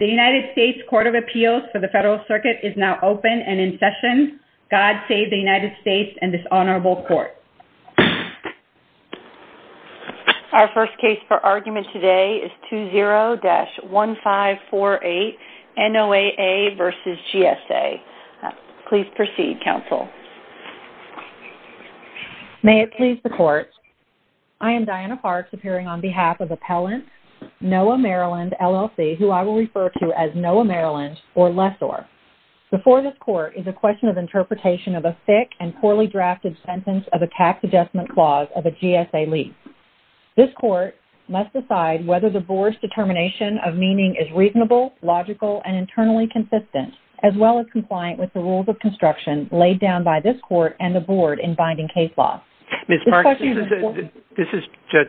The United States Court of Appeals for the Federal Circuit is now open and in session. God save the United States and this Honorable Court. Our first case for argument today is 20-1548 NOAA v. GSA. Please proceed, Counsel. May it please the Court. I am Diana Parks, appearing on behalf of Appellant NOAA Maryland, LLC, who I will refer to as NOAA Maryland or lessor. Before this Court is a question of interpretation of a thick and poorly drafted sentence of a tax adjustment clause of a GSA lease. This Court must decide whether the Board's determination of meaning is reasonable, logical, and internally consistent, as well as compliant with the rules of construction laid down by this Court and the Board in binding case law. Ms. Parks, this is Judge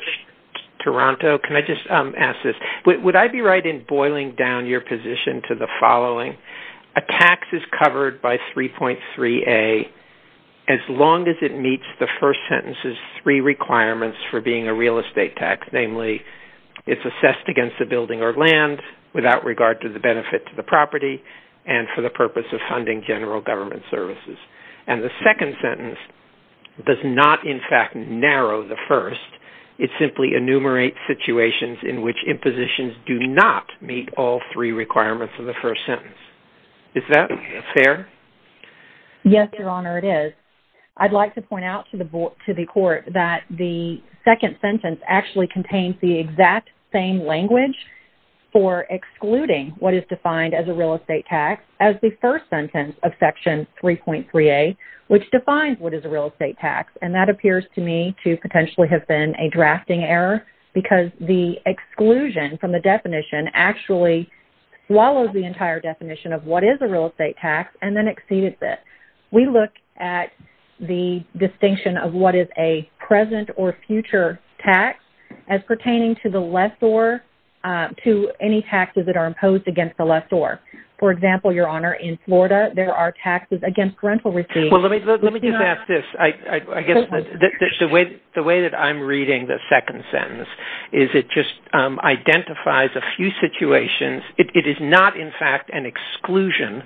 Toronto. Can I just ask this? Would I be right in boiling down your position to the following? A tax is covered by 3.3a as long as it meets the first sentence's three requirements for being a real estate tax, namely, it's assessed against the building or land without regard to the benefit to the property and for the purpose of funding general government services. And the second sentence does not, in fact, narrow the first. It simply enumerates situations in which impositions do not meet all three requirements of the first sentence. Is that fair? Yes, Your Honor, it is. I'd like to point out to the Court that the second sentence actually contains the exact same language for excluding what is defined as a real estate tax as the first sentence of Section 3.3a, which defines what is a real estate tax. And that appears to me to potentially have been a drafting error because the exclusion from the definition actually swallows the entire definition of what is a real estate tax and then exceeds it. We look at the distinction of what is a present or future tax as pertaining to the lessor to any taxes that are imposed against the lessor. For example, Your Honor, in Florida, there are taxes against rental receipts. Well, let me just ask this. The way that I'm reading the second sentence is it just identifies a few situations. It is not, in fact, an exclusion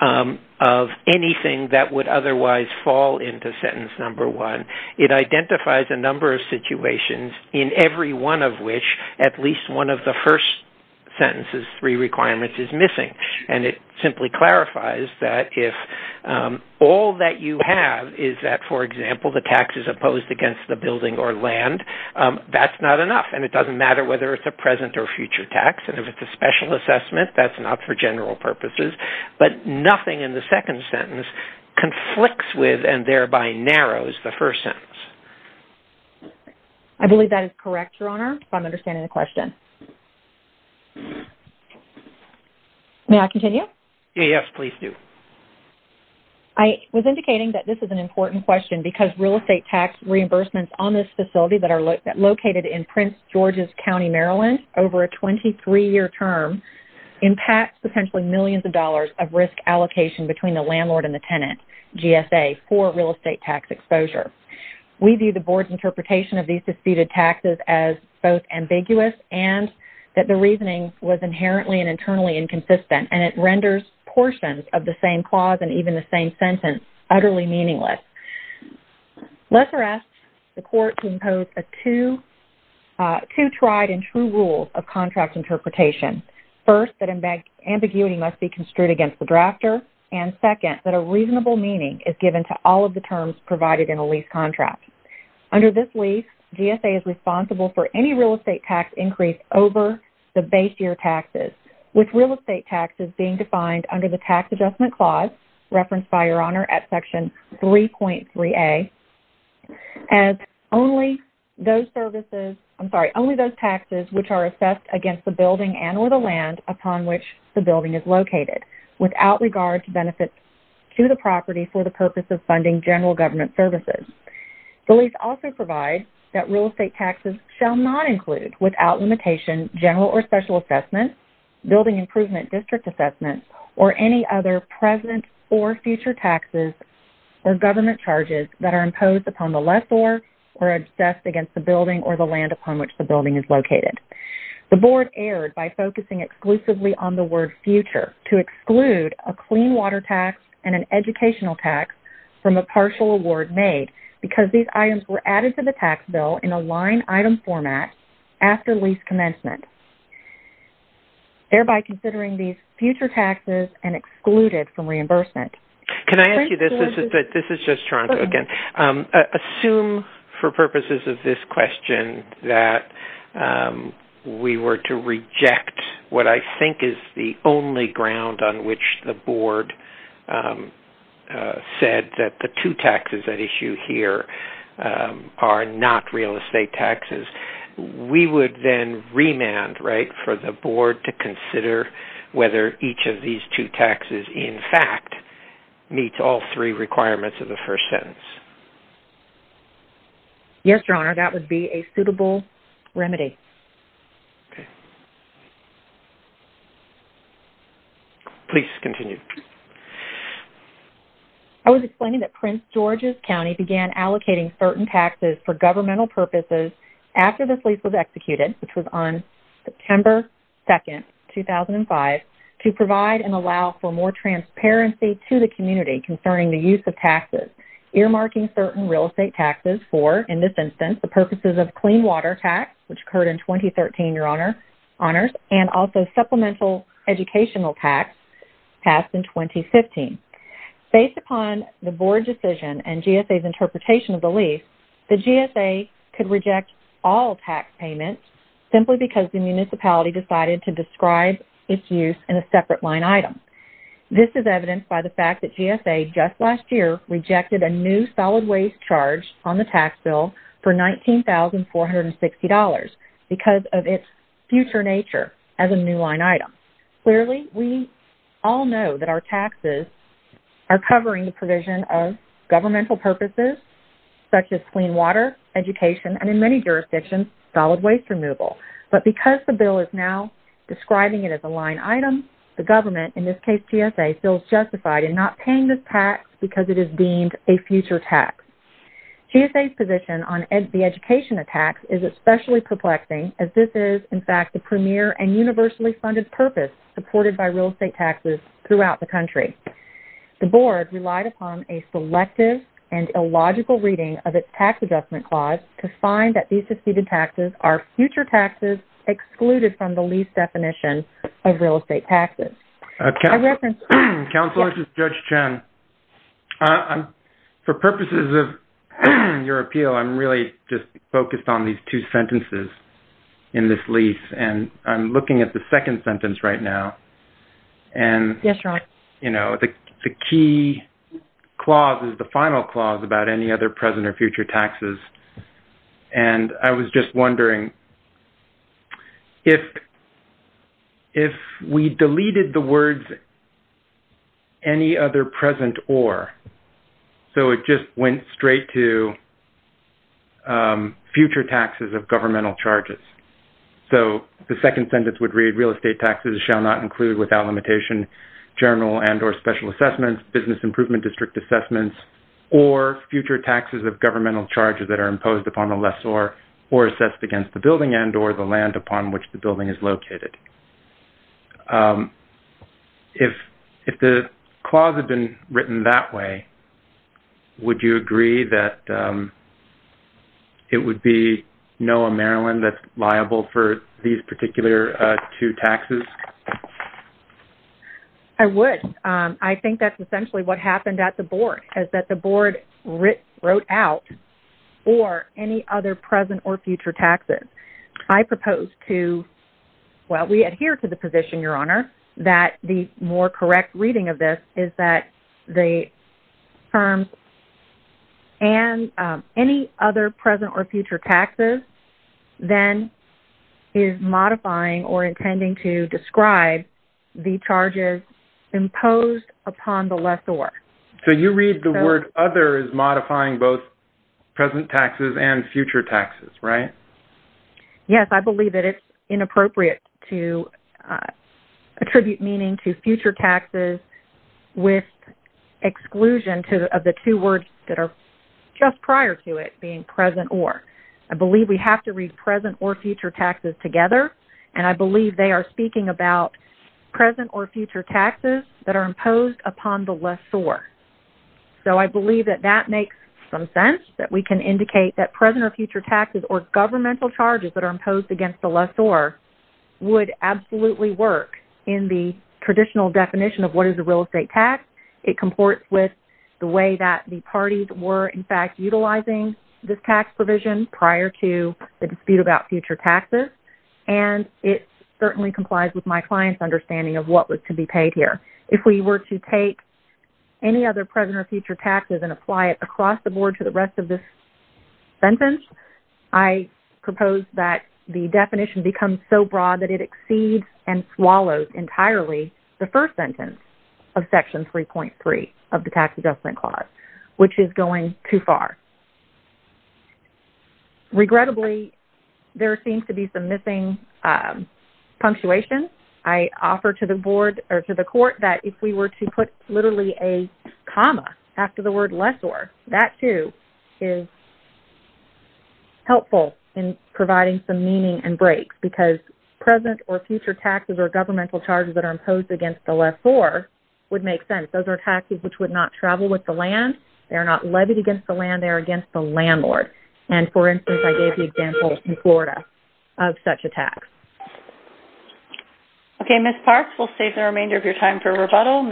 of anything that would otherwise fall into sentence number one. It identifies a number of situations in every one of which at least one of the first sentence's three requirements is missing. And it simply clarifies that if all that you have is that, for example, the tax is opposed against the building or land, that's not enough. And it doesn't matter whether it's a present or future tax. And if it's a special assessment, that's not for general purposes. But nothing in the second sentence conflicts with and thereby narrows the first sentence. I believe that is correct, Your Honor, if I'm understanding the question. May I continue? Yes, please do. I was indicating that this is an important question because real estate tax reimbursements on this facility that are located in Prince George's County, Maryland, over a 23-year term impacts potentially millions of dollars of risk allocation between the landlord and the tenant, GSA, for real estate tax exposure. We view the Board's interpretation of these disputed taxes as both ambiguous and that the reasoning was inherently and internally inconsistent. And it renders portions of the same clause and even the same sentence utterly meaningless. Lesser asks the Court to impose two tried and true rules of contract interpretation. First, that ambiguity must be construed against the drafter. And second, that a reasonable meaning is given to all of the terms provided in a lease contract. Under this lease, GSA is responsible for any real estate tax increase over the base year taxes, with real estate taxes being defined under the Tax Adjustment Clause, referenced by Your Honor at Section 3.3a, as only those services, I'm sorry, only those taxes which are assessed against the building and or the land upon which the building is located without regard to benefits to the property for the purpose of funding general government services. The lease also provides that real estate taxes shall not include, without limitation, general or special assessment, building improvement district assessment, or any other present or future taxes or government charges that are imposed upon the lessor or assessed against the building or the land upon which the building is located. The Board erred by focusing exclusively on the word future to exclude a clean water tax and an educational tax from a partial award made because these items were added to the tax bill in a line item format after lease commencement, thereby considering these future taxes and excluded from reimbursement. Can I ask you this? This is just Toronto again. Assume for purposes of this question that we were to reject what I think is the only ground on which the Board said that the two taxes at issue here are not real estate taxes. We would then remand for the Board to consider whether each of these two taxes, in fact, meets all three requirements of the first sentence. Yes, Your Honor. That would be a suitable remedy. Please continue. I was explaining that Prince George's County began allocating certain taxes for governmental purposes after this lease was executed, which was on September 2, 2005, to provide and allow for more transparency to the community concerning the use of taxes, earmarking certain real estate taxes for, in this instance, the purposes of clean water tax, which occurred in 2013, Your Honors, and also supplemental educational tax passed in 2015. Based upon the Board decision and GSA's interpretation of the lease, the GSA could reject all tax payments simply because the municipality decided to describe its use in a separate line item. This is evidenced by the fact that GSA, just last year, rejected a new solid waste charge on the tax bill for $19,460 because of its future nature as a new line item. Clearly, we all know that our taxes are covering the provision of governmental purposes, such as clean water, education, and in many jurisdictions, solid waste removal. But because the bill is now describing it as a line item, the government, in this case GSA, feels justified in not paying this tax because it is deemed a future tax. GSA's position on the education of tax is especially perplexing as this is, in fact, the premier and universally funded purpose supported by real estate taxes throughout the country. The Board relied upon a selective and illogical reading of its tax adjustment clause to find that these seceded taxes are future taxes excluded from the lease definition of real estate taxes. I reference- Counselor, this is Judge Chen. For purposes of your appeal, I'm really just focused on these two sentences in this lease and I'm looking at the second sentence right now. Yes, Ron. You know, the key clause is the final clause about any other present or future taxes. And I was just wondering if we deleted the words any other present or, so it just went straight to future taxes of governmental charges. So the second sentence would read, real estate taxes shall not include without limitation general and or special assessments, business improvement district assessments, or future taxes of governmental charges that are imposed upon the lessor or assessed against the building and or the land upon which the building is located. If the clause had been written that way, would you agree that it would be NOAA Maryland that's liable for these particular two taxes? I would. I think that's essentially what happened at the board is that the board wrote out or any other present or future taxes. I propose to, well, we adhere to the position, Your Honor, that the more correct reading of this is that the firm and any other present or future taxes then is modifying or intending to describe the charges imposed upon the lessor. So you read the word other as modifying both present taxes and future taxes, right? Yes, I believe that it's inappropriate to attribute meaning to future taxes with exclusion of the two words that are just prior to it being present or. I believe we have to read present or future taxes together, and I believe they are speaking about present or future taxes that are imposed upon the lessor. So I believe that that makes some sense that we can indicate that present or future taxes or governmental charges that are imposed against the lessor would absolutely work in the traditional definition of what is a real estate tax. It comports with the way that the parties were, in fact, utilizing this tax provision prior to the dispute about future taxes, and it certainly complies with my client's understanding of what was to be paid here. If we were to take any other present or future taxes and apply it across the board to the rest of this sentence, I propose that the definition becomes so broad that it exceeds and swallows entirely the first sentence of Section 3.3 of the Tax Adjustment Clause, which is going too far. Regrettably, there seems to be some missing punctuation. I offer to the board or to the court that if we were to put literally a comma after the word lessor, that, too, is helpful in providing some meaning and breaks because present or future taxes or governmental charges that are imposed against the lessor would make sense. Those are taxes which would not travel with the land. They are not levied against the land. They are against the landlord. And, for instance, I gave the example in Florida of such a tax. Okay, Ms. Parks, we'll save the remainder of your time for rebuttal.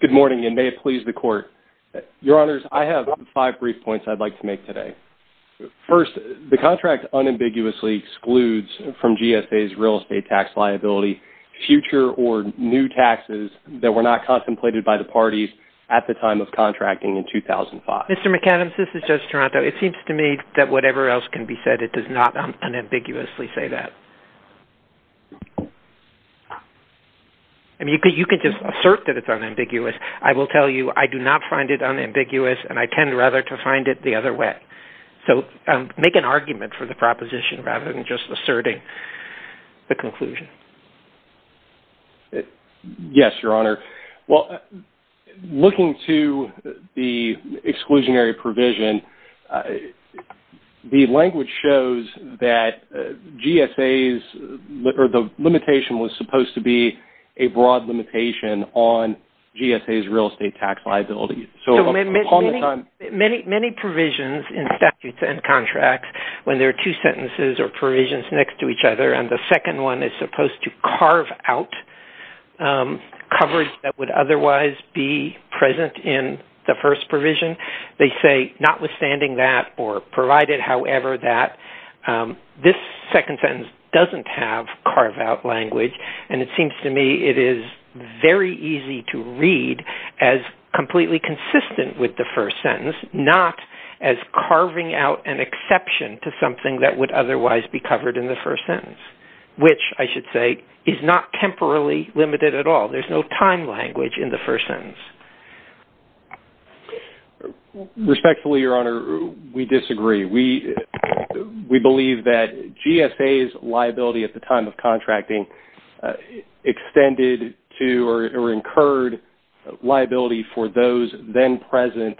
Good morning, and may it please the Court. Your Honors, I have five brief points I'd like to make today. First, the contract unambiguously excludes from GSA's real estate tax liability future or new taxes that were not contemplated by the parties at the time of contracting in 2005. Mr. McAdams, this is Judge Toronto. It seems to me that whatever else can be said, it does not unambiguously say that. I mean, you could just assert that it's unambiguous. I will tell you I do not find it unambiguous, and I tend rather to find it the other way. So, make an argument for the proposition rather than just asserting the conclusion. Yes, Your Honor. Well, looking to the exclusionary provision, the language shows that GSA's or the limitation was supposed to be a broad limitation on GSA's real estate tax liability. Many provisions in statutes and contracts, when there are two sentences or provisions next to each other, and the second one is supposed to carve out coverage that would otherwise be present in the first provision, they say notwithstanding that or provided however that this second sentence doesn't have carve-out language, and it seems to me it is very easy to read as completely consistent with the first sentence, not as carving out an exception to something that would otherwise be covered in the first sentence, which I should say is not temporally limited at all. There's no time language in the first sentence. Respectfully, Your Honor, we disagree. We believe that GSA's liability at the time of contracting extended to or incurred liability for those then-present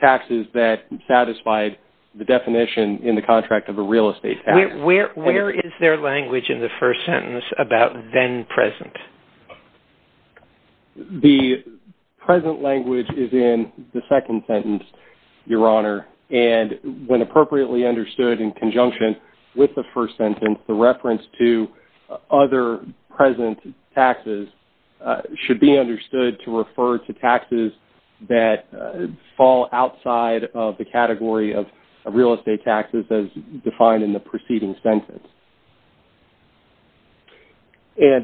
taxes that satisfied the definition in the contract of a real estate tax. Where is their language in the first sentence about then-present? The present language is in the second sentence, Your Honor, and when appropriately understood in conjunction with the first sentence, the reference to other present taxes should be understood to refer to taxes that fall outside of the category of real estate taxes as defined in the preceding sentence.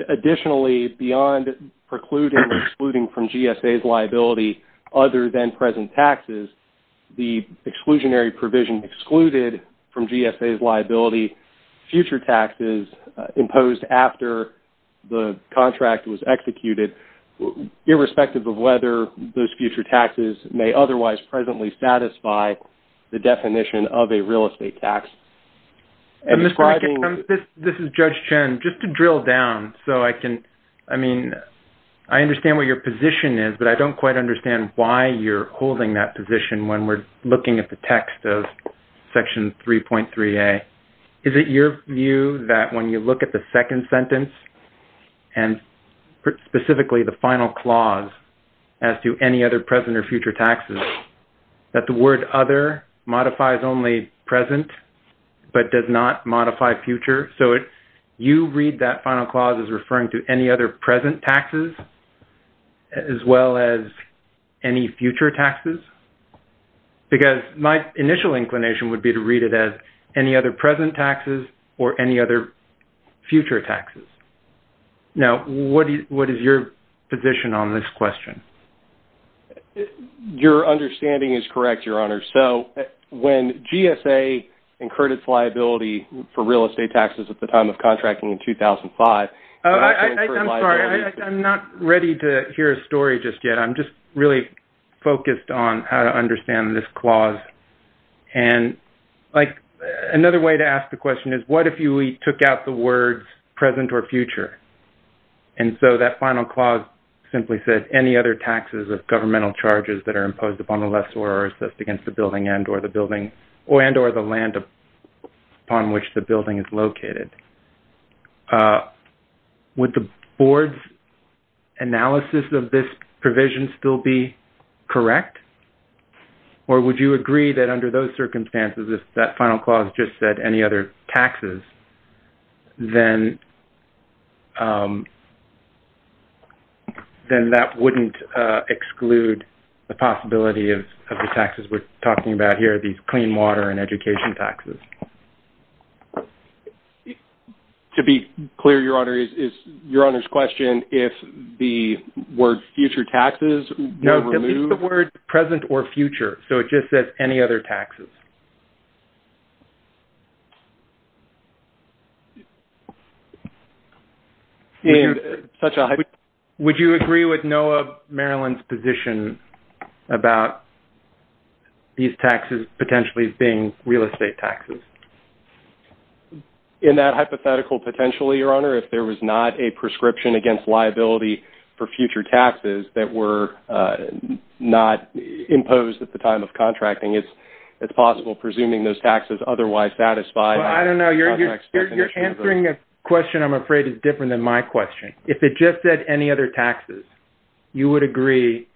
Additionally, beyond precluding or excluding from GSA's liability other than present taxes, the exclusionary provision excluded from GSA's liability future taxes imposed after the contract was executed irrespective of whether those future taxes may otherwise presently satisfy the definition of a real estate tax. And Mr. McIntosh, this is Judge Chen. Just to drill down so I can, I mean, I understand what your position is, but I don't quite understand why you're holding that position when we're looking at the text of Section 3.3a. Is it your view that when you look at the second sentence and specifically the final clause as to any other present or future taxes that the word other modifies only present but does not modify future? So you read that final clause as referring to any other present taxes as well as any future taxes? Because my initial inclination would be to read it as any other present taxes or any other future taxes. Now, what is your position on this question? Your understanding is correct, Your Honor. So when GSA incurred its liability for real estate taxes at the time of contracting in 2005, I'm sorry, I'm not ready to hear a story just yet. I'm just really focused on how to understand this clause. And, like, another way to ask the question is what if we took out the words present or future? And so that final clause simply says any other taxes of governmental charges that are imposed upon the lessor or assessed against the building and or the building and or the land upon which the building is located. Would the Board's analysis of this provision still be correct? Or would you agree that under those circumstances if that final clause just said any other taxes, then that wouldn't exclude the possibility of the taxes we're talking about here, these clean water and education taxes. To be clear, Your Honor, is Your Honor's question if the word future taxes were removed? No, it's the word present or future. So it just says any other taxes. Would you agree with NOAA Maryland's position about these taxes potentially being real estate taxes? In that hypothetical, potentially, Your Honor, if there was not a prescription against liability for future taxes that were not imposed that there was a prescription against liability is it possible presuming those taxes otherwise satisfied? I don't know. You're answering a question, I'm afraid, that's different than my question. If it just said any other taxes, you would agree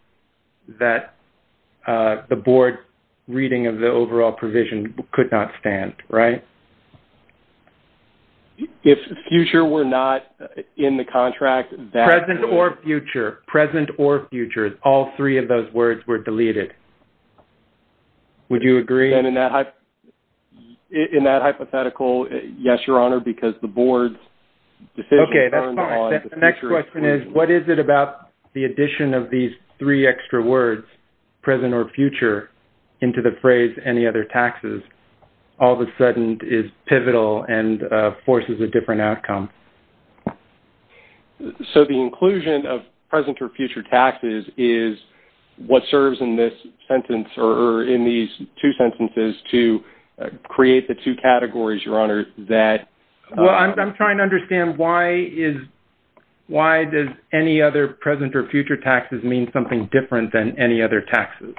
that the Board's reading of the overall provision could not stand, right? If future were not in the contract... Present or future. Present or future. All three of those words were deleted. Would you agree? In that hypothetical, yes, Your Honor, because the Board's decision... Okay, that's fine. The next question is what is it about the addition of these three extra words, present or future, into the phrase any other taxes, all of a sudden is pivotal and forces a different outcome? So the inclusion of present or future taxes is what serves in this sentence or in these two sentences to create the two categories, Your Honor, that... Well, I'm trying to understand why does any other present or future taxes mean something different than any other taxes?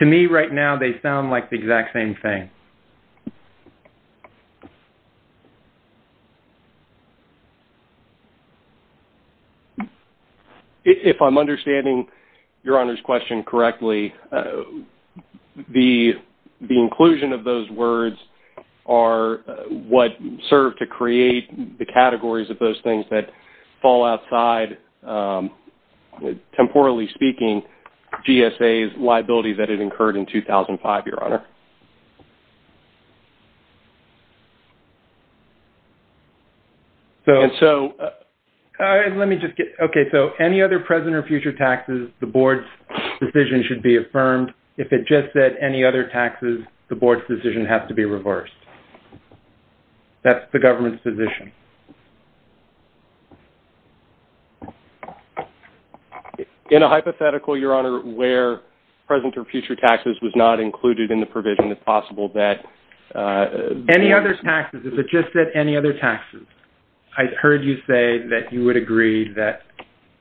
To me right now, they sound like the exact same thing. If I'm understanding Your Honor's question correctly, the inclusion of those words are what serve to create the categories of those things that fall outside, temporally speaking, GSA's liability that it incurred in 2005, Your Honor. And so... All right, let me just get... Okay, so any other present or future taxes, the Board's decision should be affirmed. If it just said any other taxes, the Board's decision has to be reversed. That's the government's position. In a hypothetical, Your Honor, where present or future taxes was not included in the presentation, it's possible that... Any other taxes. If it just said any other taxes, I heard you say that you would agree that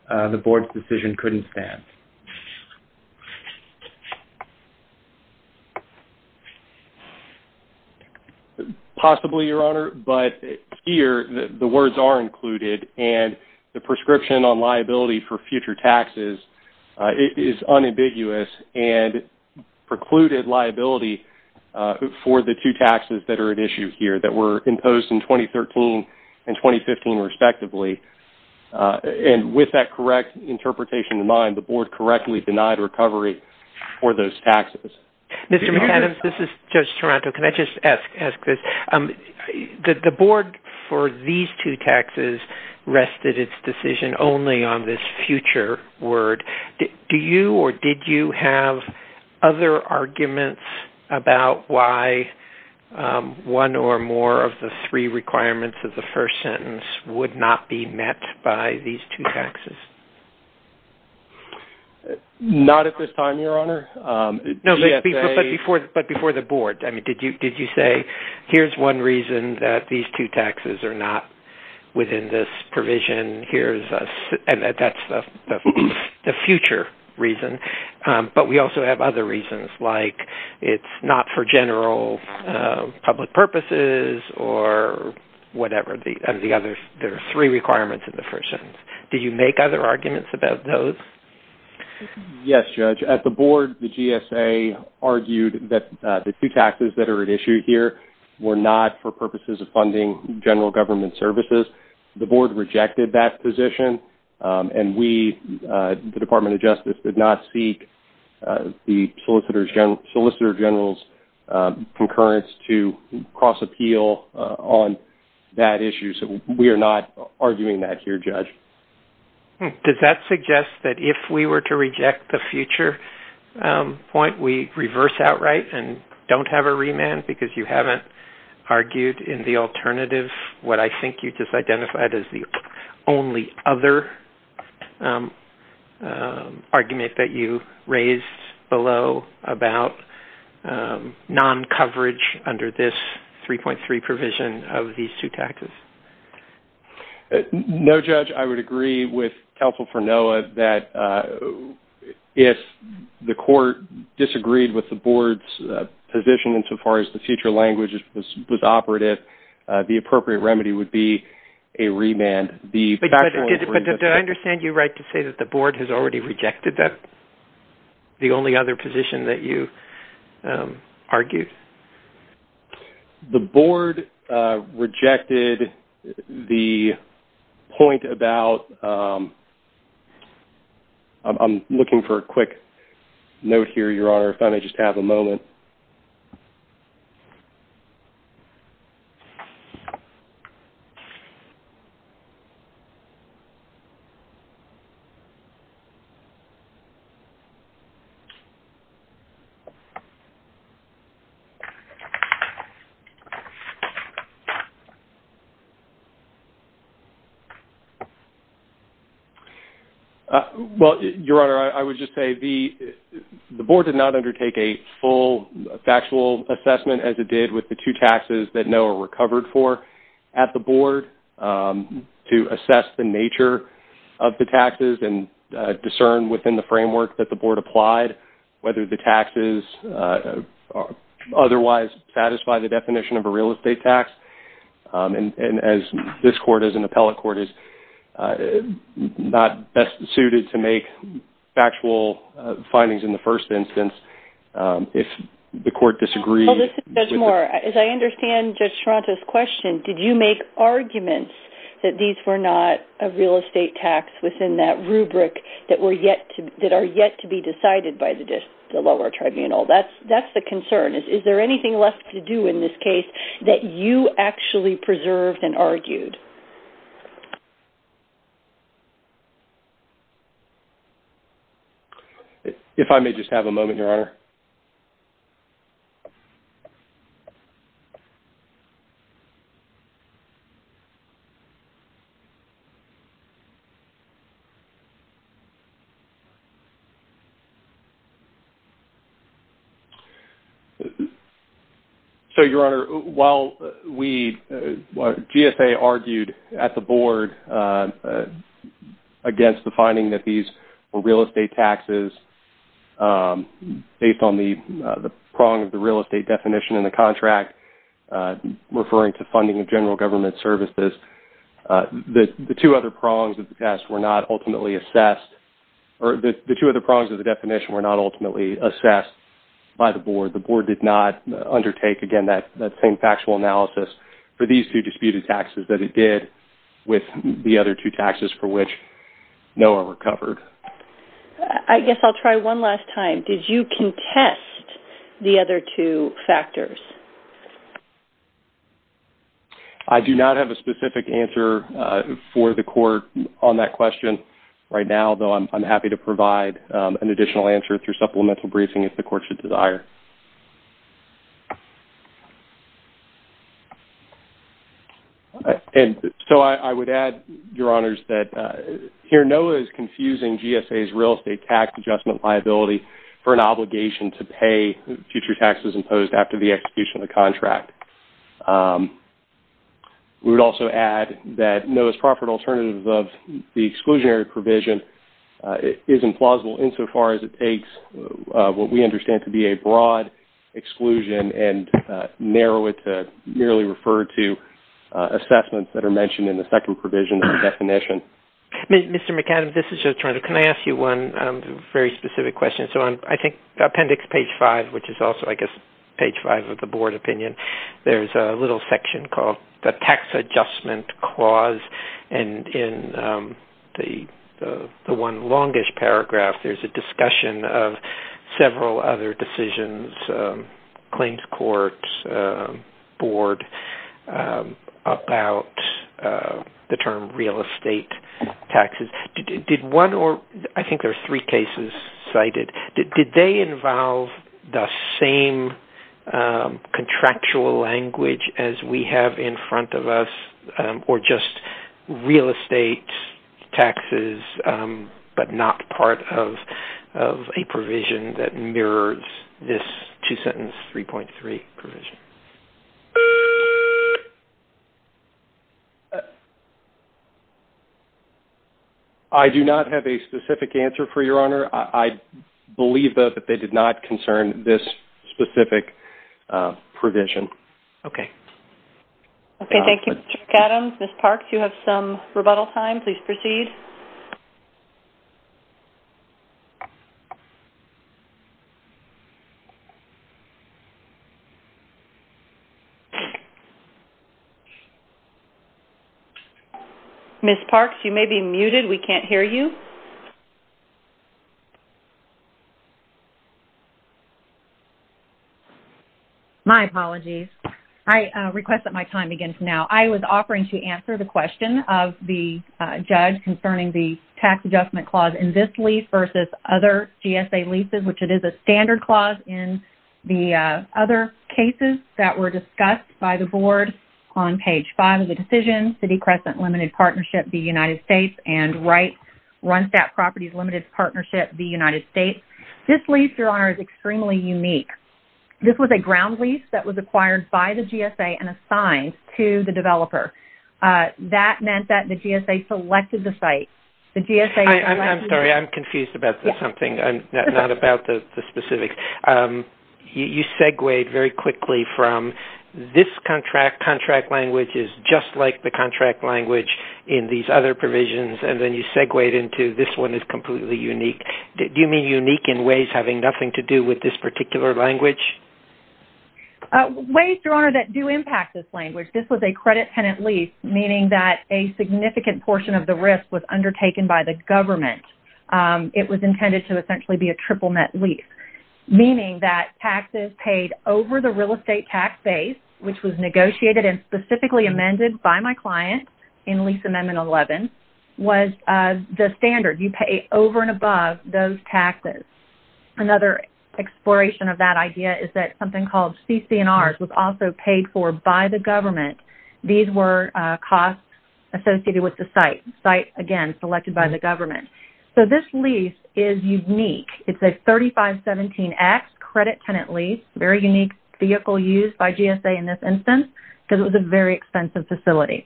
the Board's decision couldn't stand. Possibly, Your Honor, but here the words are included and the prescription on liability for future taxes is unambiguous and precluded liability for the two taxes that are at issue here that were imposed in 2013 and 2015, respectively. And with that correct interpretation in mind, the Board correctly denied recovery for those taxes. Mr. McAdams, this is Judge Toronto. Can I just ask this? The Board, for these two taxes, rested its decision only on this future word. Do you or did you have other arguments about why one or more of the three requirements of the first sentence would not be met by these two taxes? Not at this time, Your Honor. No, but before the Board. I mean, did you say, here's one reason that these two taxes are not within this provision, and that's the future reason, but we also have other reasons like it's not for general public purposes or whatever the other three requirements of the first sentence. Did you make other arguments about those? Yes, Judge. At the Board, the GSA argued that the two taxes that are at issue here were not for purposes of funding general government services. The Board rejected that position, and we, the Department of Justice, did not seek the Solicitor General's concurrence to cross-appeal on that issue, so we are not arguing that here, Judge. Does that suggest that if we were to reject the future point, we reverse outright and don't have a remand because you haven't argued in the alternative what I think you just identified as the only other argument that you raised below about non-coverage under this 3.3 provision of these two taxes? No, Judge. I would agree with Counsel for NOAA that if the Court disagreed with the Board's position insofar as the future language was operative, the appropriate remedy would be a remand. But did I understand you right to say that the Board has already rejected the only other position that you argued? The Board rejected the point about... I'm looking for a quick note here, Your Honor. If I may just have a moment. Okay. Well, Your Honor, I would just say the Board did not undertake a full factual assessment as it did with the two taxes that NOAA recovered for at the Board to assess the nature of the taxes and discern within the framework that the Board applied whether the taxes otherwise satisfy the definition of a real estate tax. And as this Court, as an appellate Court, is not best suited to make factual findings in the first instance, if the Court disagreed... There's more. As I understand Judge Toronto's question, did you make arguments that these were not a real estate tax within that rubric that are yet to be decided by the lower tribunal? That's the concern. Is there anything left to do in this case that you actually preserved and argued? If I may just have a moment, Your Honor. Okay. So, Your Honor, while we... GSA argued at the Board against the finding that these were real estate taxes based on the prong of the real estate definition in the contract referring to funding of general government services, the two other prongs of the test were not ultimately assessed... The two other prongs of the definition were not ultimately assessed by the Board. The Board did not undertake, again, that same factual analysis for these two disputed taxes that it did with the other two taxes for which NOAA recovered. I guess I'll try one last time. Did you contest the other two factors? I do not have a specific answer for the court on that question right now, though I'm happy to provide an additional answer through supplemental briefing if the court should desire. And so I would add, Your Honors, that here NOAA is confusing GSA's real estate tax adjustment liability for an obligation to pay future taxes imposed after the execution of the contract. We would also add that NOAA's proffered alternative of the exclusionary provision isn't plausible insofar as it takes what we understand to be a broad exclusion and narrow it to merely refer to assessments that are mentioned in the second provision of the definition. Mr. McAdams, this is Joe Toronto. Can I ask you one very specific question? On appendix page 5, which is also page 5 of the Board opinion, there's a little section called the Tax Adjustment Clause. And in the one longish paragraph, there's a discussion of several other decisions, claims court, board, about the term real estate taxes. I think there are three cases cited. Did they involve the same contractual language as we have in front of us or just real estate taxes but not part of a provision that mirrors this two-sentence 3.3 provision? I do not have a specific answer for Your Honor. I believe, though, that they did not concern this specific provision. Okay. Okay, thank you, Mr. McAdams. Ms. Parks, you have some rebuttal time. Please proceed. Ms. Parks, you may be muted. We can't hear you. My apologies. I request that my time begins now. I was offering to answer the question I'm not aware of that. Okay. Okay. I do have some information concerning the tax adjustment clause in this lease versus other GSA leases, which it is a standard clause in the other cases that were discussed by the Board on page five of the decision, City Crescent Limited Partnership, the United States and Wright Runstap Properties limited partnership, the United States. This lease, Your Honor, is extremely unique. This was a ground lease that was acquired by the GSA and assigned to the developer. That meant that the GSA selected the site. I'm sorry, I'm confused about something, not about the specifics. You segued very quickly from this contract, contract language is just like the contract language in these other provisions and then you segued into this one is completely unique. Do you mean unique in ways having nothing to do with this particular language? Ways, Your Honor, that do impact this language. This was a credit tenant lease meaning that a significant portion of the risk was undertaken by the government. It was intended to essentially be a triple net lease meaning that taxes paid over the real estate tax base which was negotiated and specifically amended by my client in lease amendment 11 was the standard. You pay over and above those taxes. Another exploration of that idea is that something called CC&R was also paid for by the government. These were costs associated with the site. Site, again, selected by the government. This lease is unique. It's a 3517X credit tenant lease. Very unique vehicle used by GSA in this instance because it was a very expensive facility.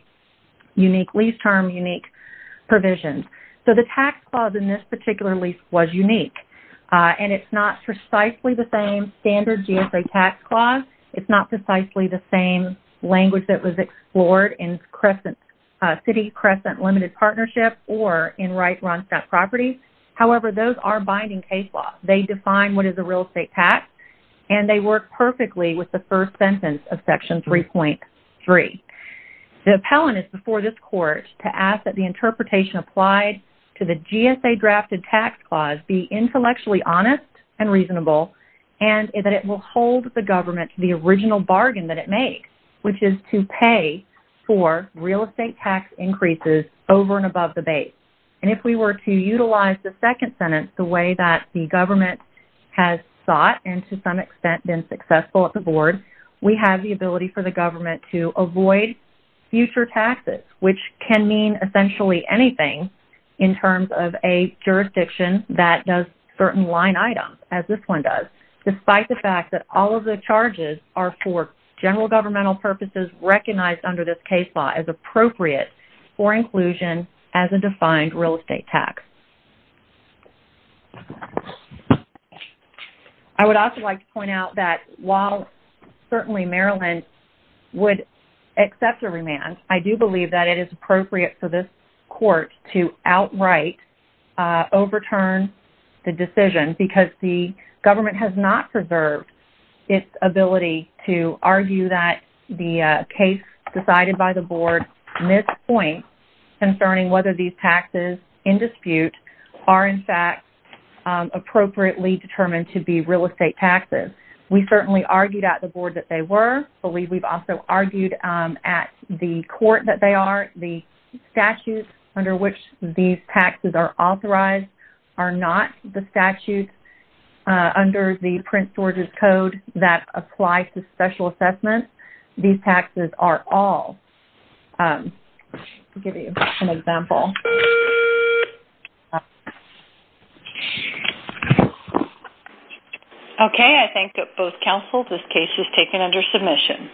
Unique lease term, unique provisions. The tax clause in this particular lease was unique and it's not precisely the same standard GSA tax clause. It's not precisely the same language that was explored in City Crescent Limited Partnership or in Wright-Ronstadt Properties. However, those are binding case laws. They define what is a real estate tax and they work perfectly with the first sentence of section 3.3. The appellant is before this court to ask that the interpretation applied to the GSA drafted tax clause be intellectually honest and reasonable and that it will hold the government to the original bargain that it made which is to pay for real estate tax increases over and above the base. If we were to utilize the second sentence the way that the government has sought and to some extent been successful at the board, we have the ability for the government to avoid future taxes which can mean essentially anything in terms of a jurisdiction that does certain line items as this one does despite the fact that all of the charges are for general governmental purposes recognized under this case law as appropriate for inclusion as a defined real estate tax. I would also like to point out that while certainly Maryland would accept a remand, I do believe that it is appropriate for this court to outright overturn the decision because the government has not preserved its ability to argue that the case decided by the board mispoints concerning whether these taxes in dispute are in fact appropriately determined to be real estate taxes. We certainly argued at the board that they were. We've also argued at the court that they are. The statutes under which these taxes are authorized are not the statutes under the Prince George's Code that apply to special assessments. These taxes are all. I'll give you an example. Okay, I thank both counsel. This case is taken under submission.